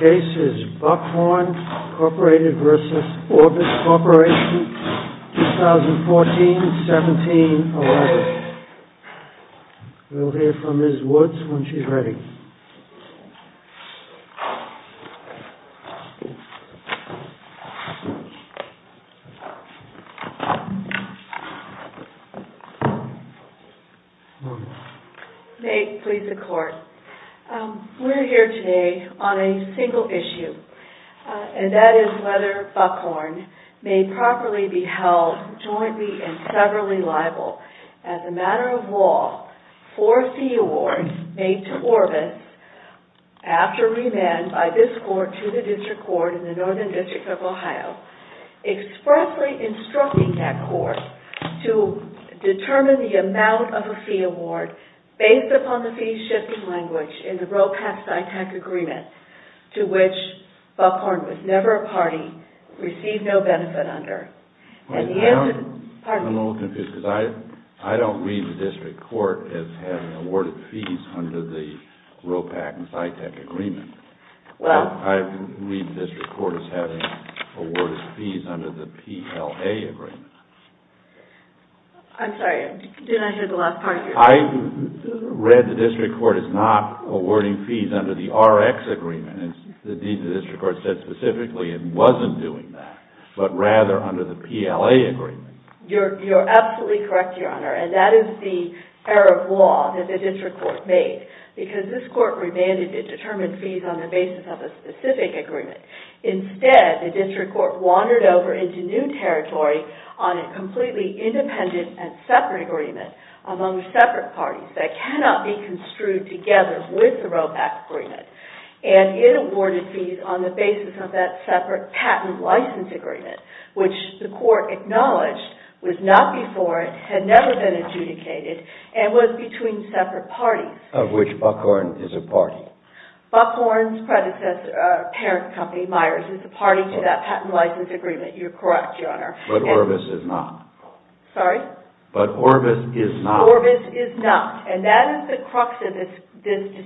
Orbis Corp. v. Orbis Corporation Orbis Corporation Next case is Buckhorn, Inc. v. Orbis Corporation, 2014-17-11. We'll hear from Ms. Woods when she's ready. We're here today on a single issue, and that is whether Buckhorn may properly be held jointly and severally liable as a matter of law for a fee award made to Orbis after remand by this Court to the District Court in the Northern District of Ohio, expressly instructing that Court to determine the amount of a fee award based upon the fee-shifting language in the ROCAP-SITAC agreement, to which Buckhorn was never a party, received no benefit under. I'm a little confused because I don't read the District Court as having awarded fees under the ROCAP-SITAC agreement. I read the District Court as having awarded fees under the PLA agreement. I'm sorry, didn't I hear the last part of your question? I read the District Court as not awarding fees under the RX agreement. Indeed, the District Court said specifically it wasn't doing that, but rather under the PLA agreement. You're absolutely correct, Your Honor, and that is the error of law that the District Court made because this Court remanded a determined fees on the basis of a specific agreement. Instead, the District Court wandered over into new territory on a completely independent and separate agreement among separate parties that cannot be construed together with the ROCAP agreement. It awarded fees on the basis of that separate patent-license agreement, which the Court acknowledged was not before it, had never been adjudicated, and was between separate parties. Of which Buckhorn is a party. Buckhorn's predecessor, a parent company, Myers, is a party to that patent-license agreement. You're correct, Your Honor. But Orbis is not. Sorry? But Orbis is not. Orbis is not, and that is the crux of this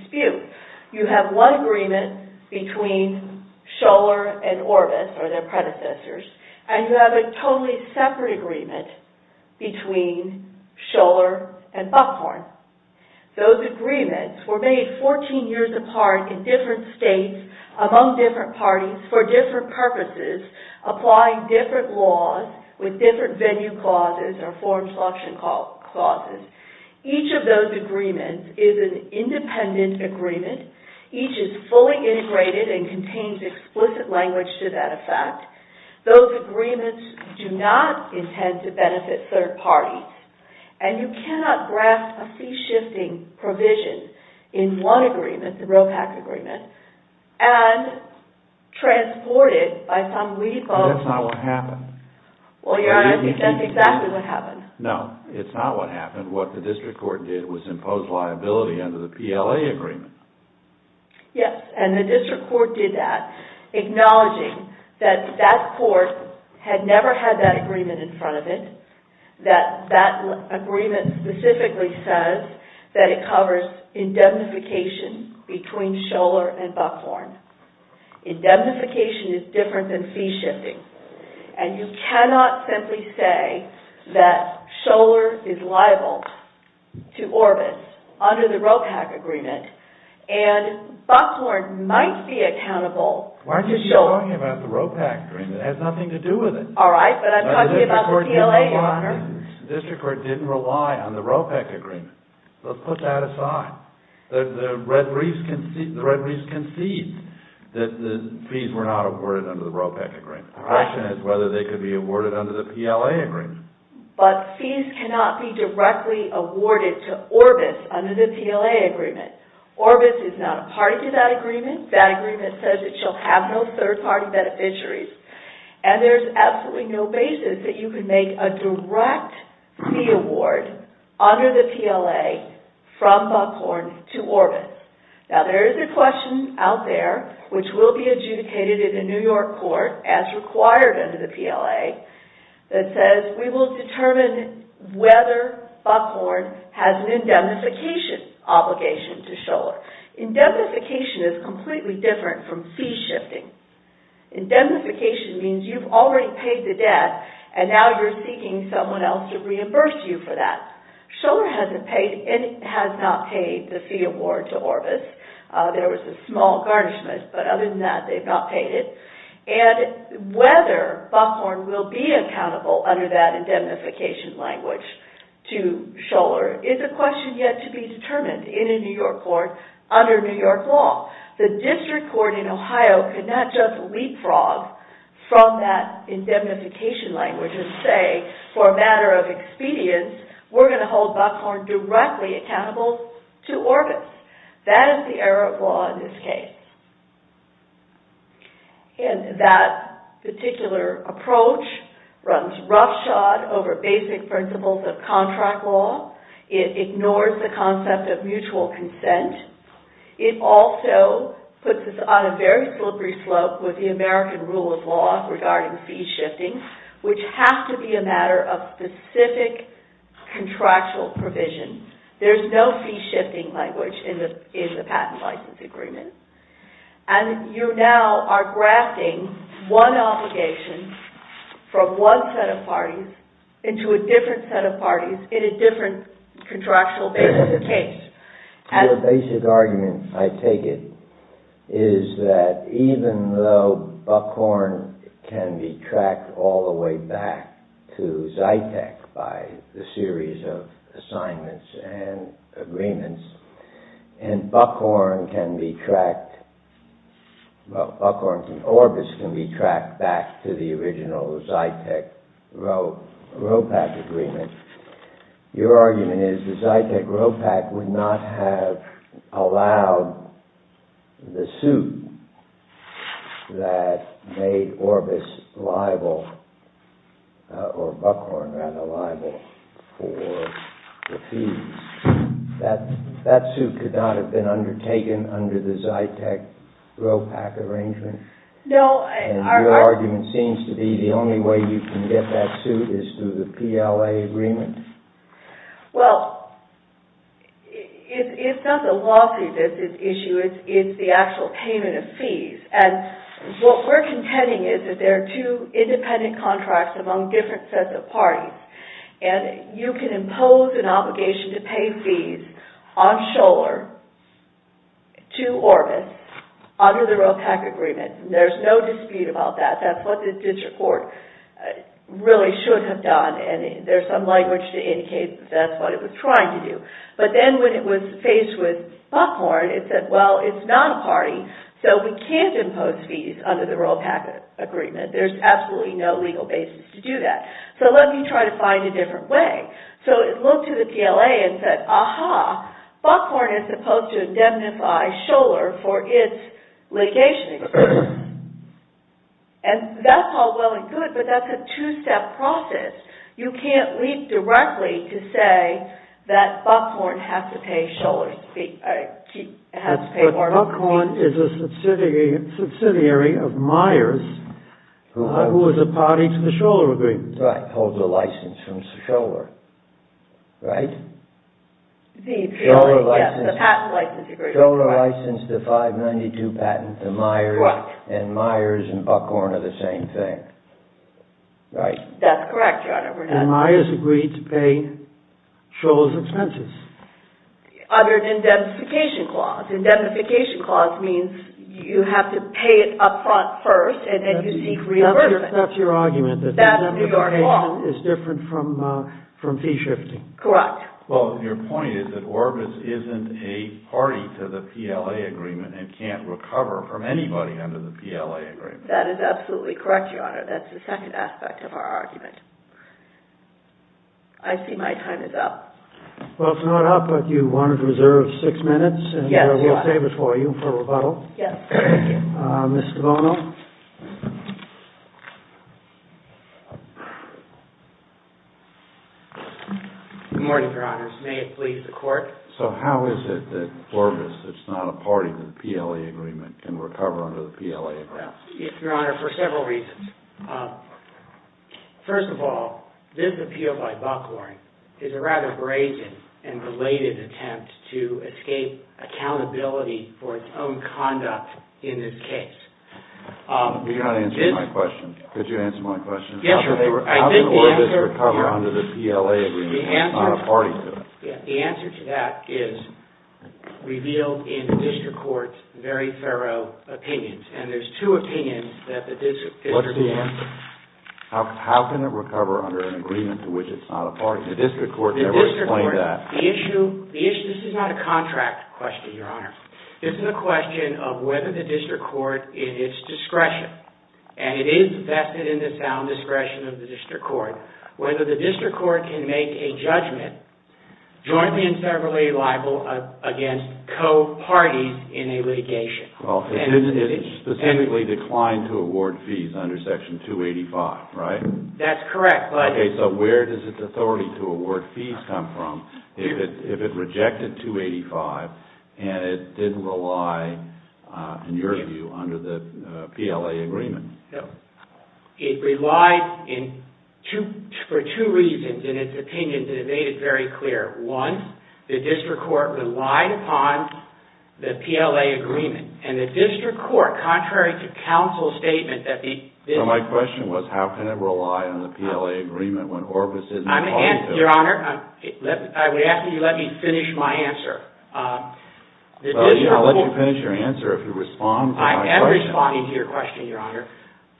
dispute. You have one agreement between Scholar and Orbis, or their predecessors, and you have a totally separate agreement between Scholar and Buckhorn. Those agreements were made 14 years apart in different states among different parties for different purposes, applying different laws with different venue clauses or form selection clauses. Each of those agreements is an independent agreement. Each is fully integrated and contains explicit language to that effect. Those agreements do not intend to benefit third parties, and you cannot grasp a fee-shifting provision in one agreement, the ROCAP agreement, and transport it by some legal... But that's not what happened. Well, Your Honor, that's exactly what happened. No, it's not what happened. What the District Court did was impose liability under the PLA agreement. Yes, and the District Court did that, acknowledging that that court had never had that agreement in front of it, that that agreement specifically says that it covers indemnification between Scholar and Buckhorn. Indemnification is different than fee-shifting, and you cannot simply say that Scholar is liable to Orbis under the ROCAP agreement, and Buckhorn might be accountable to Scholar. Why are you talking about the ROCAP agreement? It has nothing to do with it. All right, but I'm talking about the PLA, Your Honor. The District Court didn't rely on the ROPEC agreement. Let's put that aside. The Red Reefs conceded that the fees were not awarded under the ROPEC agreement. The question is whether they could be awarded under the PLA agreement. But fees cannot be directly awarded to Orbis under the PLA agreement. Orbis is not a party to that agreement. That agreement says that you'll have no third-party beneficiaries, and there's absolutely no basis that you can make a direct fee award under the PLA from Buckhorn to Orbis. Now, there is a question out there, which will be adjudicated in the New York court as required under the PLA, that says we will determine whether Buckhorn has an indemnification obligation to Scholar. Indemnification is completely different from fee-shifting. Indemnification means you've already paid the debt, and now you're seeking someone else to reimburse you for that. Scholar has not paid the fee award to Orbis. There was a small garnishment, but other than that, they've not paid it. And whether Buckhorn will be accountable under that indemnification language to Scholar is a question yet to be determined in a New York court under New York law. The district court in Ohio could not just leapfrog from that indemnification language and say, for a matter of expedience, we're going to hold Buckhorn directly accountable to Orbis. That is the error of law in this case. And that particular approach runs roughshod over basic principles of contract law. It ignores the concept of mutual consent. It also puts us on a very slippery slope with the American rule of law regarding fee-shifting, which has to be a matter of specific contractual provision. There's no fee-shifting language in the patent license agreement. And you now are grafting one obligation from one set of parties into a different set of parties in a different contractual basis of case. Your basic argument, I take it, is that even though Buckhorn can be tracked all the way back to Zytek by the series of assignments and agreements, and Orbis can be tracked back to the original Zytek-ROPAC agreement, your argument is that Zytek-ROPAC would not have allowed the suit that made Orbis liable, or Buckhorn rather liable, for the fees. That suit could not have been undertaken under the Zytek-ROPAC arrangement. And your argument seems to be the only way you can get that suit is through the PLA agreement? Well, it's not the lawsuit that's at issue, it's the actual payment of fees. And what we're contending is that there are two independent contracts among different sets of parties. And you can impose an obligation to pay fees on Scholar to Orbis under the ROPAC agreement. There's no dispute about that. That's what the district court really should have done, and there's some language to indicate that's what it was trying to do. But then when it was faced with Buckhorn, it said, well, it's not a party, so we can't impose fees under the ROPAC agreement. There's absolutely no legal basis to do that. So let me try to find a different way. So it looked to the PLA and said, aha, Buckhorn is supposed to indemnify Scholar for its litigation. And that's all well and good, but that's a two-step process. You can't leap directly to say that Buckhorn has to pay Scholar, has to pay Orbis. Buckhorn is a subsidiary of Myers, who is a party to the Scholar agreement. Right. Holds a license from Scholar, right? Scholar licensed the 592 patent to Myers, and Myers and Buckhorn are the same thing. Right. That's correct, Your Honor. And Myers agreed to pay Scholar's expenses. Other than indemnification clause. Indemnification clause means you have to pay it up front first, and then you seek reimbursement. That's your argument, that indemnification is different from fee shifting. Correct. Well, your point is that Orbis isn't a party to the PLA agreement and can't recover from anybody under the PLA agreement. That is absolutely correct, Your Honor. That's the second aspect of our argument. I see my time is up. Well, it's not up, but you wanted to reserve six minutes, and we'll save it for you for rebuttal. Yes. Thank you. Mr. Bono. Good morning, Your Honors. May it please the Court. So how is it that Orbis, that's not a party to the PLA agreement, can recover under the PLA agreement? Yes, Your Honor, for several reasons. First of all, this appeal by Buckhorn is a rather brazen and belated attempt to escape accountability for its own conduct in this case. You've got to answer my question. Could you answer my question? Yes, Your Honor. How does Orbis recover under the PLA agreement? It's not a party to it. The answer to that is revealed in the district court's very thorough opinions. And there's two opinions that the district court has given. What is the answer? How can it recover under an agreement to which it's not a party? The district court never explained that. The issue, this is not a contract question, Your Honor. This is a question of whether the district court in its discretion, and it is vested in the sound discretion of the district court, whether the district court can make a judgment jointly and severally liable against co-parties in a litigation. Well, it specifically declined to award fees under Section 285, right? That's correct. Okay, so where does its authority to award fees come from if it rejected 285 and it didn't rely, in your view, under the PLA agreement? It relied for two reasons in its opinions, and it made it very clear. One, the district court relied upon the PLA agreement. And the district court, contrary to counsel's statement that the district court... Well, my question was, how can it rely on the PLA agreement when Orbis isn't a party to it? Your Honor, I would ask that you let me finish my answer. Well, I'll let you finish your answer if you respond to my question. Responding to your question, Your Honor,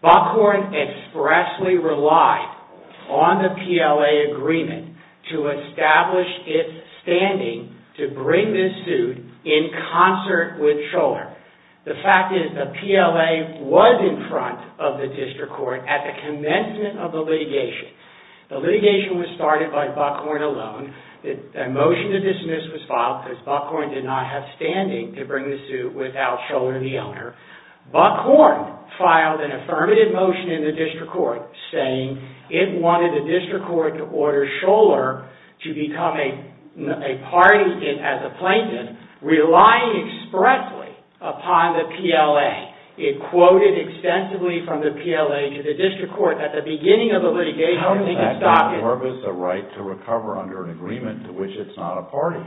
Buckhorn expressly relied on the PLA agreement to establish its standing to bring this suit in concert with Scholar. The fact is the PLA was in front of the district court at the commencement of the litigation. The litigation was started by Buckhorn alone. The motion to dismiss was filed because Buckhorn did not have standing to bring the suit without Scholar, the owner. Buckhorn filed an affirmative motion in the district court saying it wanted the district court to order Scholar to become a party as a plaintiff, relying expressly upon the PLA. It quoted extensively from the PLA to the district court at the beginning of the litigation. How is that not Orbis' right to recover under an agreement to which it's not a party?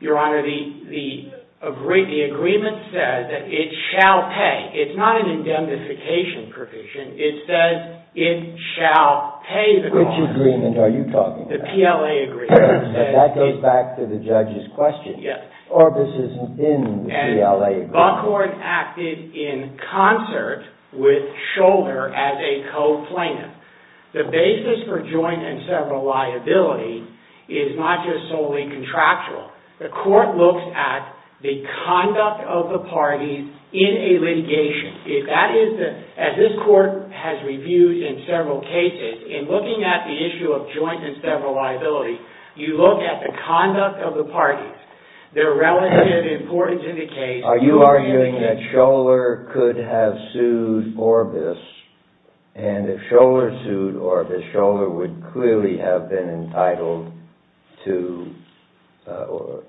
Your Honor, the agreement says that it shall pay. It's not an indemnification provision. It says it shall pay the government. Which agreement are you talking about? The PLA agreement. That goes back to the judge's question. Yes. Orbis isn't in the PLA agreement. And Buckhorn acted in concert with Scholar as a co-plaintiff. The basis for joint and several liability is not just solely contractual. The court looks at the conduct of the parties in a litigation. As this court has reviewed in several cases, in looking at the issue of joint and several liability, you look at the conduct of the parties, their relative importance in the case. Are you arguing that Scholar could have sued Orbis? And if Scholar sued Orbis, Scholar would clearly have been entitled to, or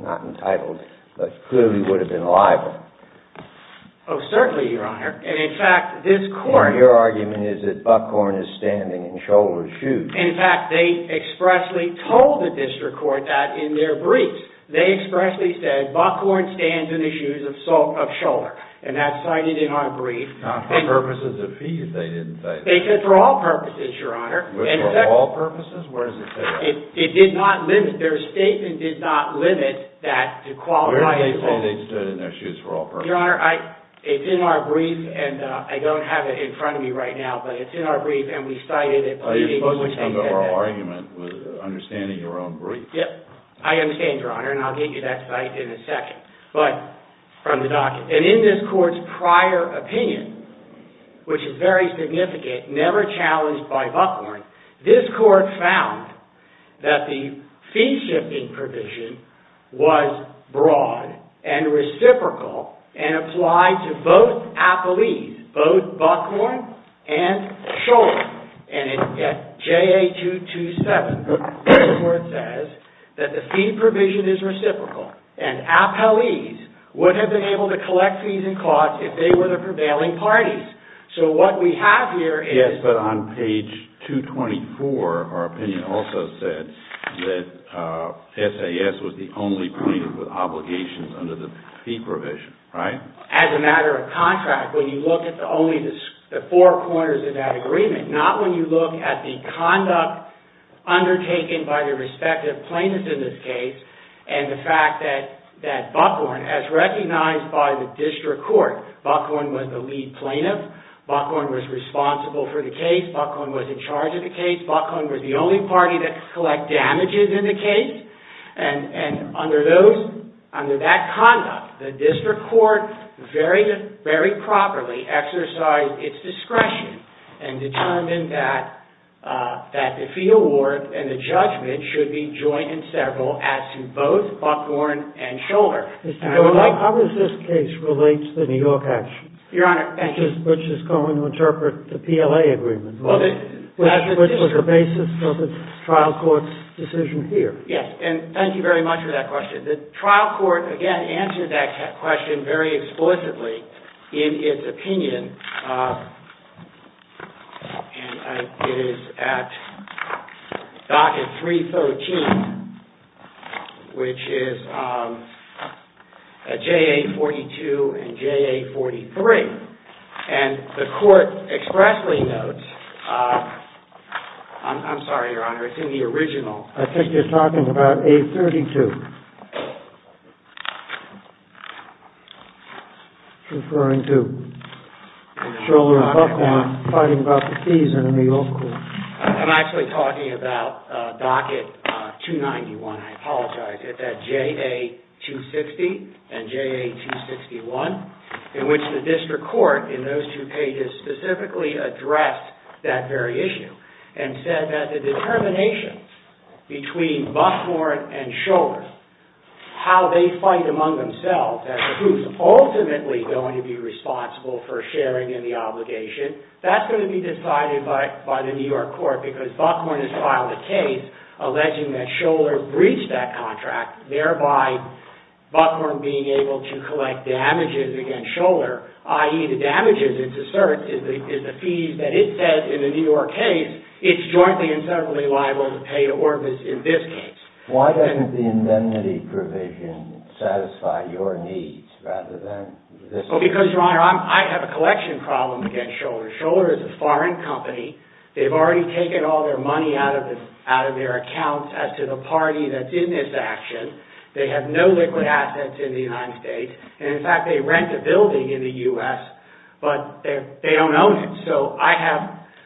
not entitled, but clearly would have been liable. Oh, certainly, Your Honor. And in fact, this court... And your argument is that Buckhorn is standing in Scholar's shoes. In fact, they expressly told the district court that in their brief. They expressly said, Buckhorn stands in the shoes of Scholar. And that's cited in our brief. Not for purposes of fees, they didn't say. They said for all purposes, Your Honor. For all purposes? Where does it say that? It did not limit. Their statement did not limit that to qualify as well. Where did they say they stood in their shoes for all purposes? Your Honor, it's in our brief, and I don't have it in front of me right now, but it's in our brief, and we cited it. You're supposed to come to our argument with understanding your own brief. I understand, Your Honor, and I'll get you that cite in a second. And in this court's prior opinion, which is very significant, never challenged by Buckhorn, this court found that the fee-shifting provision was broad and reciprocal and applied to both appellees, both Buckhorn and Scholar. And at JA-227, this is where it says that the fee provision is reciprocal, and appellees would have been able to collect fees and costs if they were the prevailing parties. So what we have here is... Yes, but on page 224, our opinion also said that SAS was the only plaintiff with obligations under the fee provision, right? As a matter of contract, when you look at only the four corners of that agreement, not when you look at the conduct undertaken by the respective plaintiffs in this case, and the fact that Buckhorn, as recognized by the district court, Buckhorn was the lead plaintiff, Buckhorn was responsible for the case, Buckhorn was in charge of the case, Buckhorn was the only party to collect damages in the case, and under that conduct, the district court very properly exercised its discretion and determined that the fee award and the judgment should be joint and several, as to both Buckhorn and Scholar. How does this case relate to the New York action? Your Honor, thank you. Which is going to interpret the PLA agreement, which was the basis of the trial court's decision here. Yes, and thank you very much for that question. The trial court, again, answered that question very explicitly in its opinion. And it is at docket 313, which is JA-42 and JA-43. And the court expressly notes... I'm sorry, Your Honor, it's in the original. I think you're talking about A-32. Referring to Scholar and Buckhorn fighting about the fees in the New York court. I'm actually talking about docket 291, I apologize. It's at JA-260 and JA-261, in which the district court, in those two pages, specifically addressed that very issue. And said that the determination between Buckhorn and Scholar, how they fight among themselves, and who's ultimately going to be responsible for sharing in the obligation, that's going to be decided by the New York court, because Buckhorn has filed a case alleging that Scholar breached that contract, thereby Buckhorn being able to collect damages against Scholar, i.e. the damages, it asserts, is the fees that it says in the New York case, it's jointly and separately liable to pay to Orvis in this case. Why doesn't the indemnity provision satisfy your needs rather than this one? Because, Your Honor, I have a collection problem against Scholar. Scholar is a foreign company. They've already taken all their money out of their accounts as to the party that's in this action. They have no liquid assets in the United States. And, in fact, they rent a building in the U.S., but they don't own it. So I have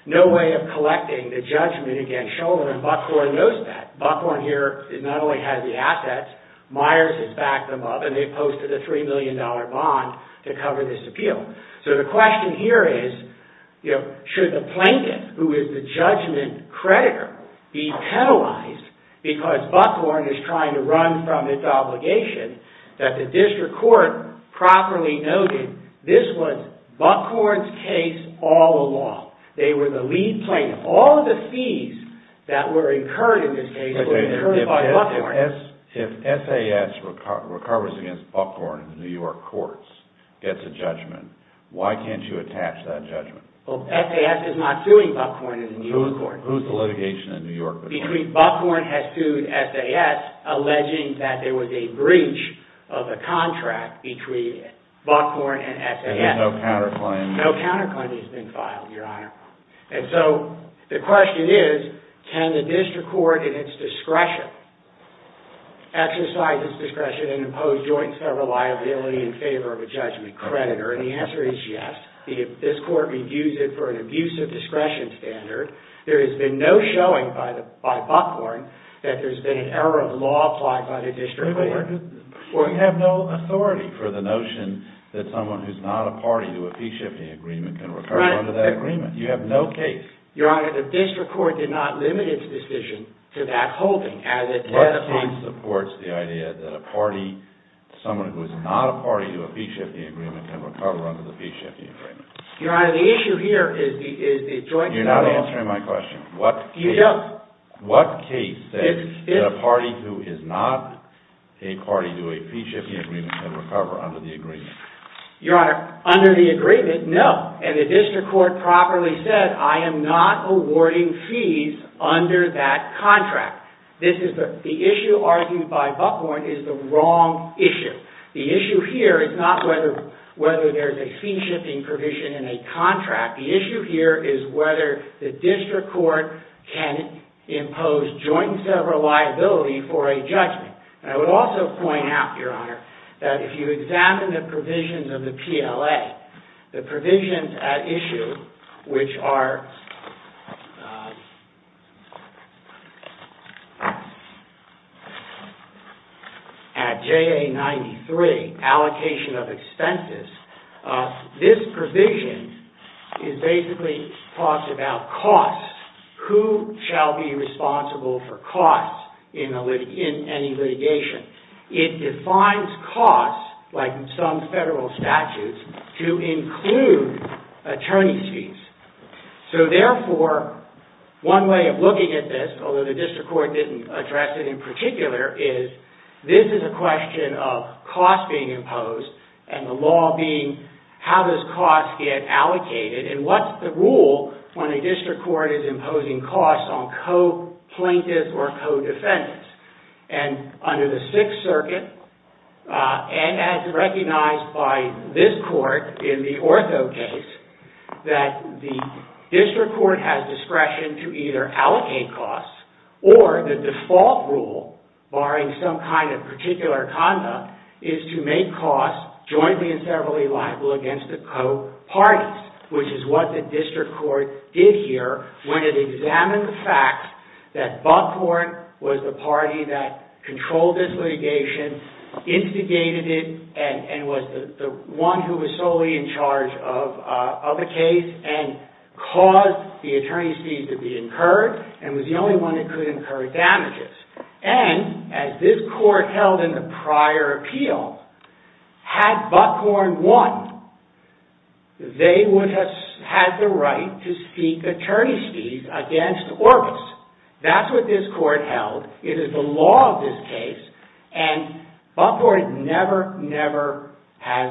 no way of collecting the judgment against Scholar, and Buckhorn knows that. Buckhorn here not only has the assets, Myers has backed them up, and they've posted a $3 million bond to cover this appeal. So the question here is, should the plaintiff, who is the judgment creditor, be penalized because Buckhorn is trying to run from its obligation that the district court properly noted this was Buckhorn's case all along. They were the lead plaintiff. All of the fees that were incurred in this case were incurred by Buckhorn. If SAS recovers against Buckhorn in the New York courts, gets a judgment, why can't you attach that judgment? Well, SAS is not suing Buckhorn in the New York courts. Who's the litigation in New York? Between Buckhorn has sued SAS, alleging that there was a breach of the contract between Buckhorn and SAS. And there's no counterclaim. No counterclaim has been filed, Your Honor. And so the question is, can the district court, in its discretion, exercise its discretion and impose joint federal liability in favor of a judgment creditor? And the answer is yes. This court reviews it for an abusive discretion standard. There has been no showing by Buckhorn that there's been an error of law applied by the district court. You have no authority for the notion that someone who's not a party to a fee-shifting agreement can recover under that agreement. You have no case. Your Honor, the district court did not limit its decision to that holding. What case supports the idea that a party, someone who is not a party to a fee-shifting agreement, can recover under the fee-shifting agreement? Your Honor, the issue here is the joint federal answer. You're not answering my question. You don't. What case says that a party who is not a party to a fee-shifting agreement can recover under the agreement? Your Honor, under the agreement, no. And the district court properly said, I am not awarding fees under that contract. The issue argued by Buckhorn is the wrong issue. The issue here is not whether there's a fee-shifting provision in a contract. The issue here is whether the district court can impose joint federal liability for a judgment. And I would also point out, Your Honor, that if you examine the provisions of the PLA, the provisions at issue, which are at JA 93, allocation of expenses, this provision basically talks about costs. Who shall be responsible for costs in any litigation? It defines costs, like some federal statutes, to include attorney's fees. So therefore, one way of looking at this, although the district court didn't address it in particular, is this is a question of costs being imposed and the law being how does costs get allocated and what's the rule when a district court is imposing costs on co-plaintiffs or co-defendants. And under the Sixth Circuit, as recognized by this court in the Ortho case, that the district court has discretion to either allocate costs or the default rule, barring some kind of particular conduct, is to make costs jointly and federally liable against the co-parties, which is what the district court did here when it examined the fact that Buckhorn was the party that controlled this litigation, instigated it, and was the one who was solely in charge of the case and caused the attorney's fees to be incurred and was the only one that could incur damages. And, as this court held in the prior appeal, had Buckhorn won, they would have had the right to seek attorney's fees against Orbis. That's what this court held. It is the law of this case. And Buckhorn never, never has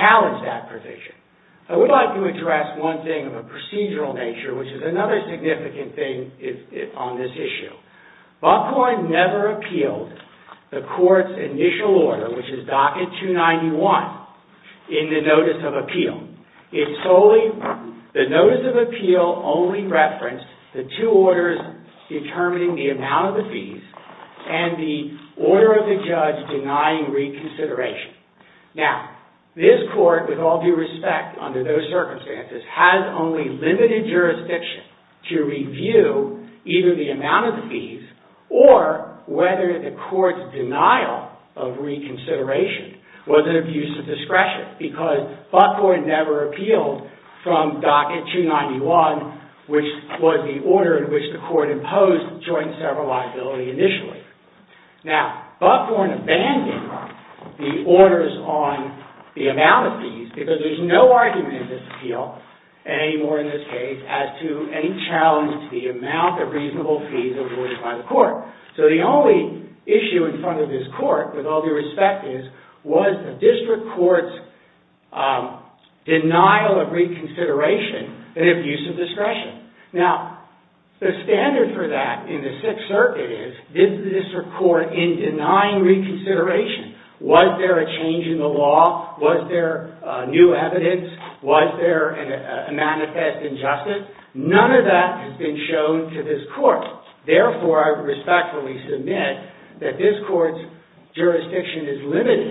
challenged that provision. I would like to address one thing of a procedural nature, which is another significant thing on this issue. Buckhorn never appealed the court's initial order, which is Docket 291, in the Notice of Appeal. The Notice of Appeal only referenced the two orders determining the amount of the fees and the order of the judge denying reconsideration. Now, this court, with all due respect under those circumstances, has only limited jurisdiction to review either the amount of the fees or whether the court's denial of reconsideration was an abuse of discretion because Buckhorn never appealed from Docket 291, which was the order in which the court imposed joint sever liability initially. Now, Buckhorn abandoned the orders on the amount of fees because there's no argument in this appeal, anymore in this case, as to any challenge to the amount of reasonable fees awarded by the court. So, the only issue in front of this court, with all due respect, was the district court's denial of reconsideration, an abuse of discretion. Now, the standard for that in the Sixth Circuit is, did the district court, in denying reconsideration, was there a change in the law? Was there new evidence? Was there a manifest injustice? None of that has been shown to this court. Therefore, I respectfully submit that this court's jurisdiction is limited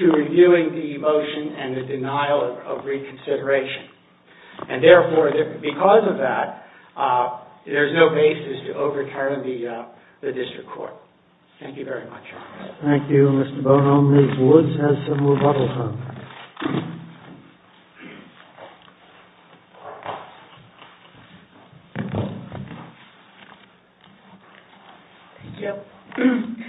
to reviewing the motion and the denial of reconsideration. And therefore, because of that, there's no basis to overturn the district court. Thank you very much. Thank you, Mr. Bonhomme. Ms. Woods has some rebuttals. Thank you.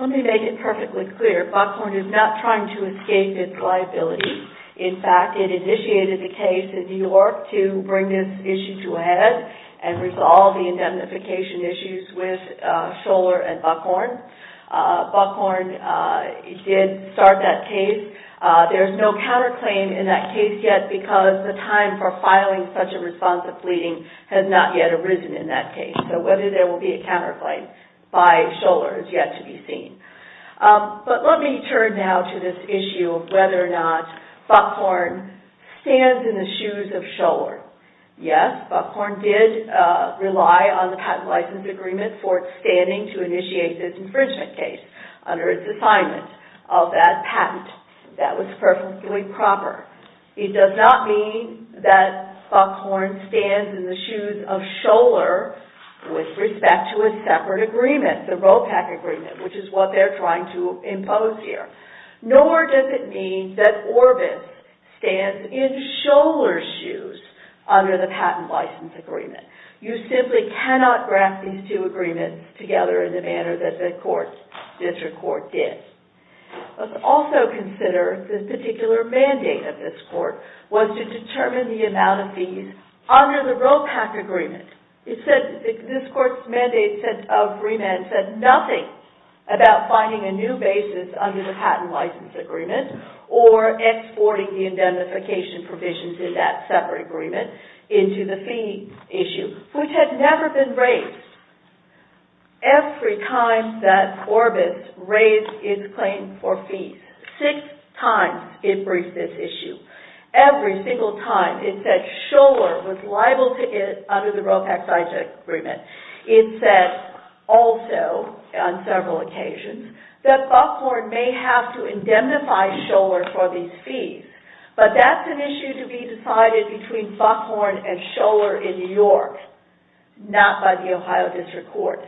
Let me make it perfectly clear. Buckhorn is not trying to escape its liability. In fact, it initiated the case in New York to bring this issue to a head and resolve the indemnification issues with Scholar and Buckhorn. Buckhorn did start that case. There's no counterclaim in that case yet, because the time for filing such a response of pleading has not yet arisen in that case. So, whether there will be a counterclaim by Scholar is yet to be seen. But let me turn now to this issue of whether or not Buckhorn stands in the shoes of Scholar. Yes, Buckhorn did rely on the patent license agreement for its standing to initiate this infringement case under its assignment of that patent. That was perfectly proper. It does not mean that Buckhorn stands in the shoes of Scholar with respect to a separate agreement, the ROPEC agreement, which is what they're trying to impose here. Nor does it mean that Orbis stands in Scholar's shoes under the patent license agreement. You simply cannot graft these two agreements together in the manner that the district court did. Let's also consider the particular mandate of this court was to determine the amount of fees under the ROPEC agreement. This court's mandate of remand said nothing about finding a new basis under the patent license agreement or exporting the indemnification provisions in that separate agreement into the fee issue, which had never been raised. Every time that Orbis raised its claim for fees, six times it briefed this issue. Every single time it said Scholar was liable to get under the ROPEC license agreement. It said also on several occasions that Buckhorn may have to indemnify Scholar for these fees, but that's an issue to be decided between Buckhorn and Scholar in New York, not by the Ohio District Court.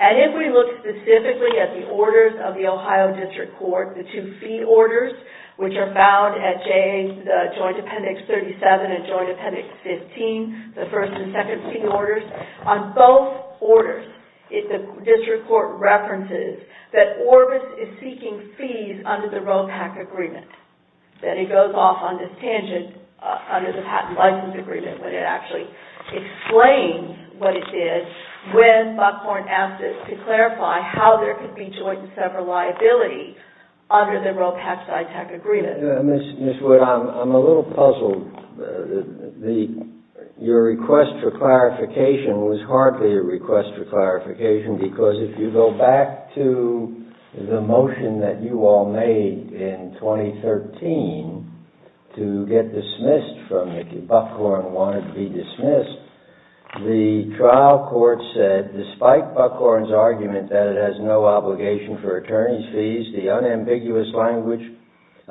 If we look specifically at the orders of the Ohio District Court, the two fee orders, which are found at Joint Appendix 37 and Joint Appendix 15, the first and second fee orders, on both orders the district court references that Orbis is seeking fees under the ROPEC agreement. Then it goes off on this tangent under the patent license agreement when it actually explains what it did when Buckhorn asked it to clarify how there could be joint and several liability under the ROPEC-CITAC agreement. Ms. Wood, I'm a little puzzled. Your request for clarification was hardly a request for clarification because if you go back to the motion that you all made in 2013 to get dismissed from, if Buckhorn wanted to be dismissed, the trial court said, despite Buckhorn's argument that it has no obligation for attorney's fees, the unambiguous language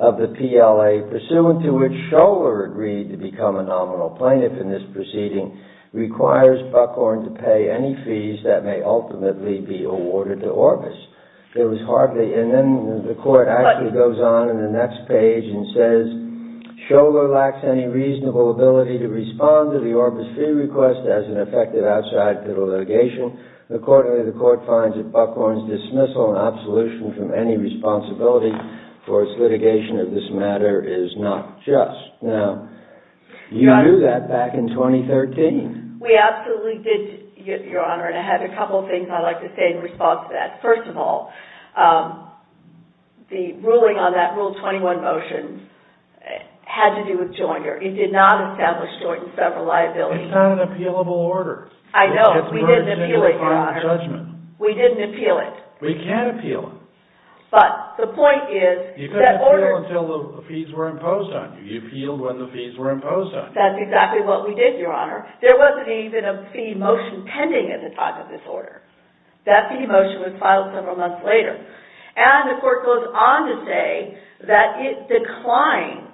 of the PLA, pursuant to which Scholar agreed to become a nominal plaintiff in this proceeding, requires Buckhorn to pay any fees that may ultimately be awarded to Orbis. And then the court actually goes on in the next page and says, Scholar lacks any reasonable ability to respond to the Orbis fee request as an effective outside fiddle litigation. Accordingly, the court finds that Buckhorn's dismissal and absolution from any responsibility for its litigation of this matter is not just. Now, you knew that back in 2013. We absolutely did, Your Honor, and I had a couple of things I'd like to say in response to that. First of all, the ruling on that Rule 21 motion had to do with Joyner. It did not establish Joyner's federal liability. It's not an appealable order. I know. We didn't appeal it, Your Honor. It gets merged into a final judgment. We didn't appeal it. We can't appeal it. But the point is that order. You couldn't appeal until the fees were imposed on you. You appealed when the fees were imposed on you. That's exactly what we did, Your Honor. There wasn't even a fee motion pending at the time of this order. That fee motion was filed several months later. And the court goes on to say that it declined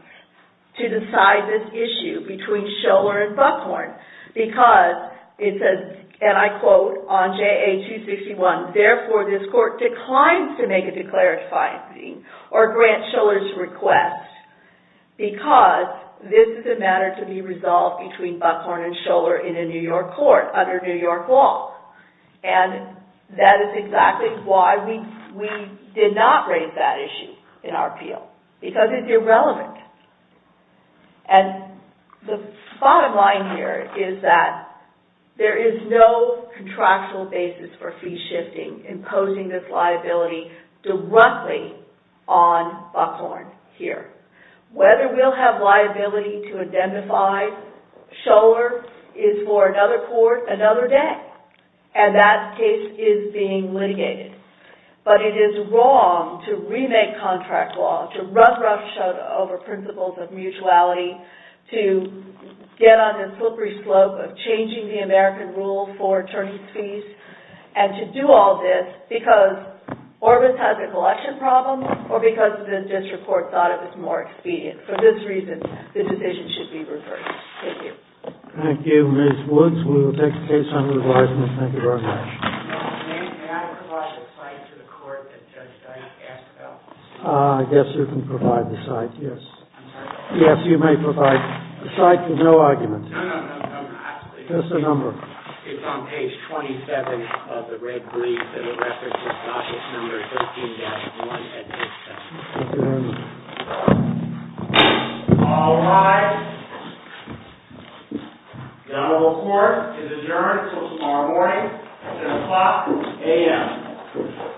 to decide this issue between Scholar and Buckhorn because it says, and I quote on JA 261, therefore this court declines to make a declarative finding or grant Scholar's request because this is a matter to be resolved between Buckhorn and Scholar in a New York court under New York law. And that is exactly why we did not raise that issue in our appeal. Because it's irrelevant. And the bottom line here is that there is no contractual basis for fee shifting imposing this liability directly on Buckhorn here. Whether we'll have liability to identify Scholar is for another court another day. And that case is being litigated. But it is wrong to remake contract law, to run roughshod over principles of mutuality, to get on the slippery slope of changing the American rule for attorney's fees, and to do all this because Orbis has a collection problem or because the district court thought it was more expedient. For this reason, the decision should be reversed. Thank you. Thank you, Ms. Woods. We will take the case under advisement. Thank you very much. I guess you can provide the site, yes. I'm sorry? Yes, you may provide the site with no argument. No, no, no, no. Just a number. It's on page 27 of the red brief. And it refers to statute number 13-1 at this time. Thank you very much. All rise. The honorable court is adjourned until tomorrow morning at 5 a.m.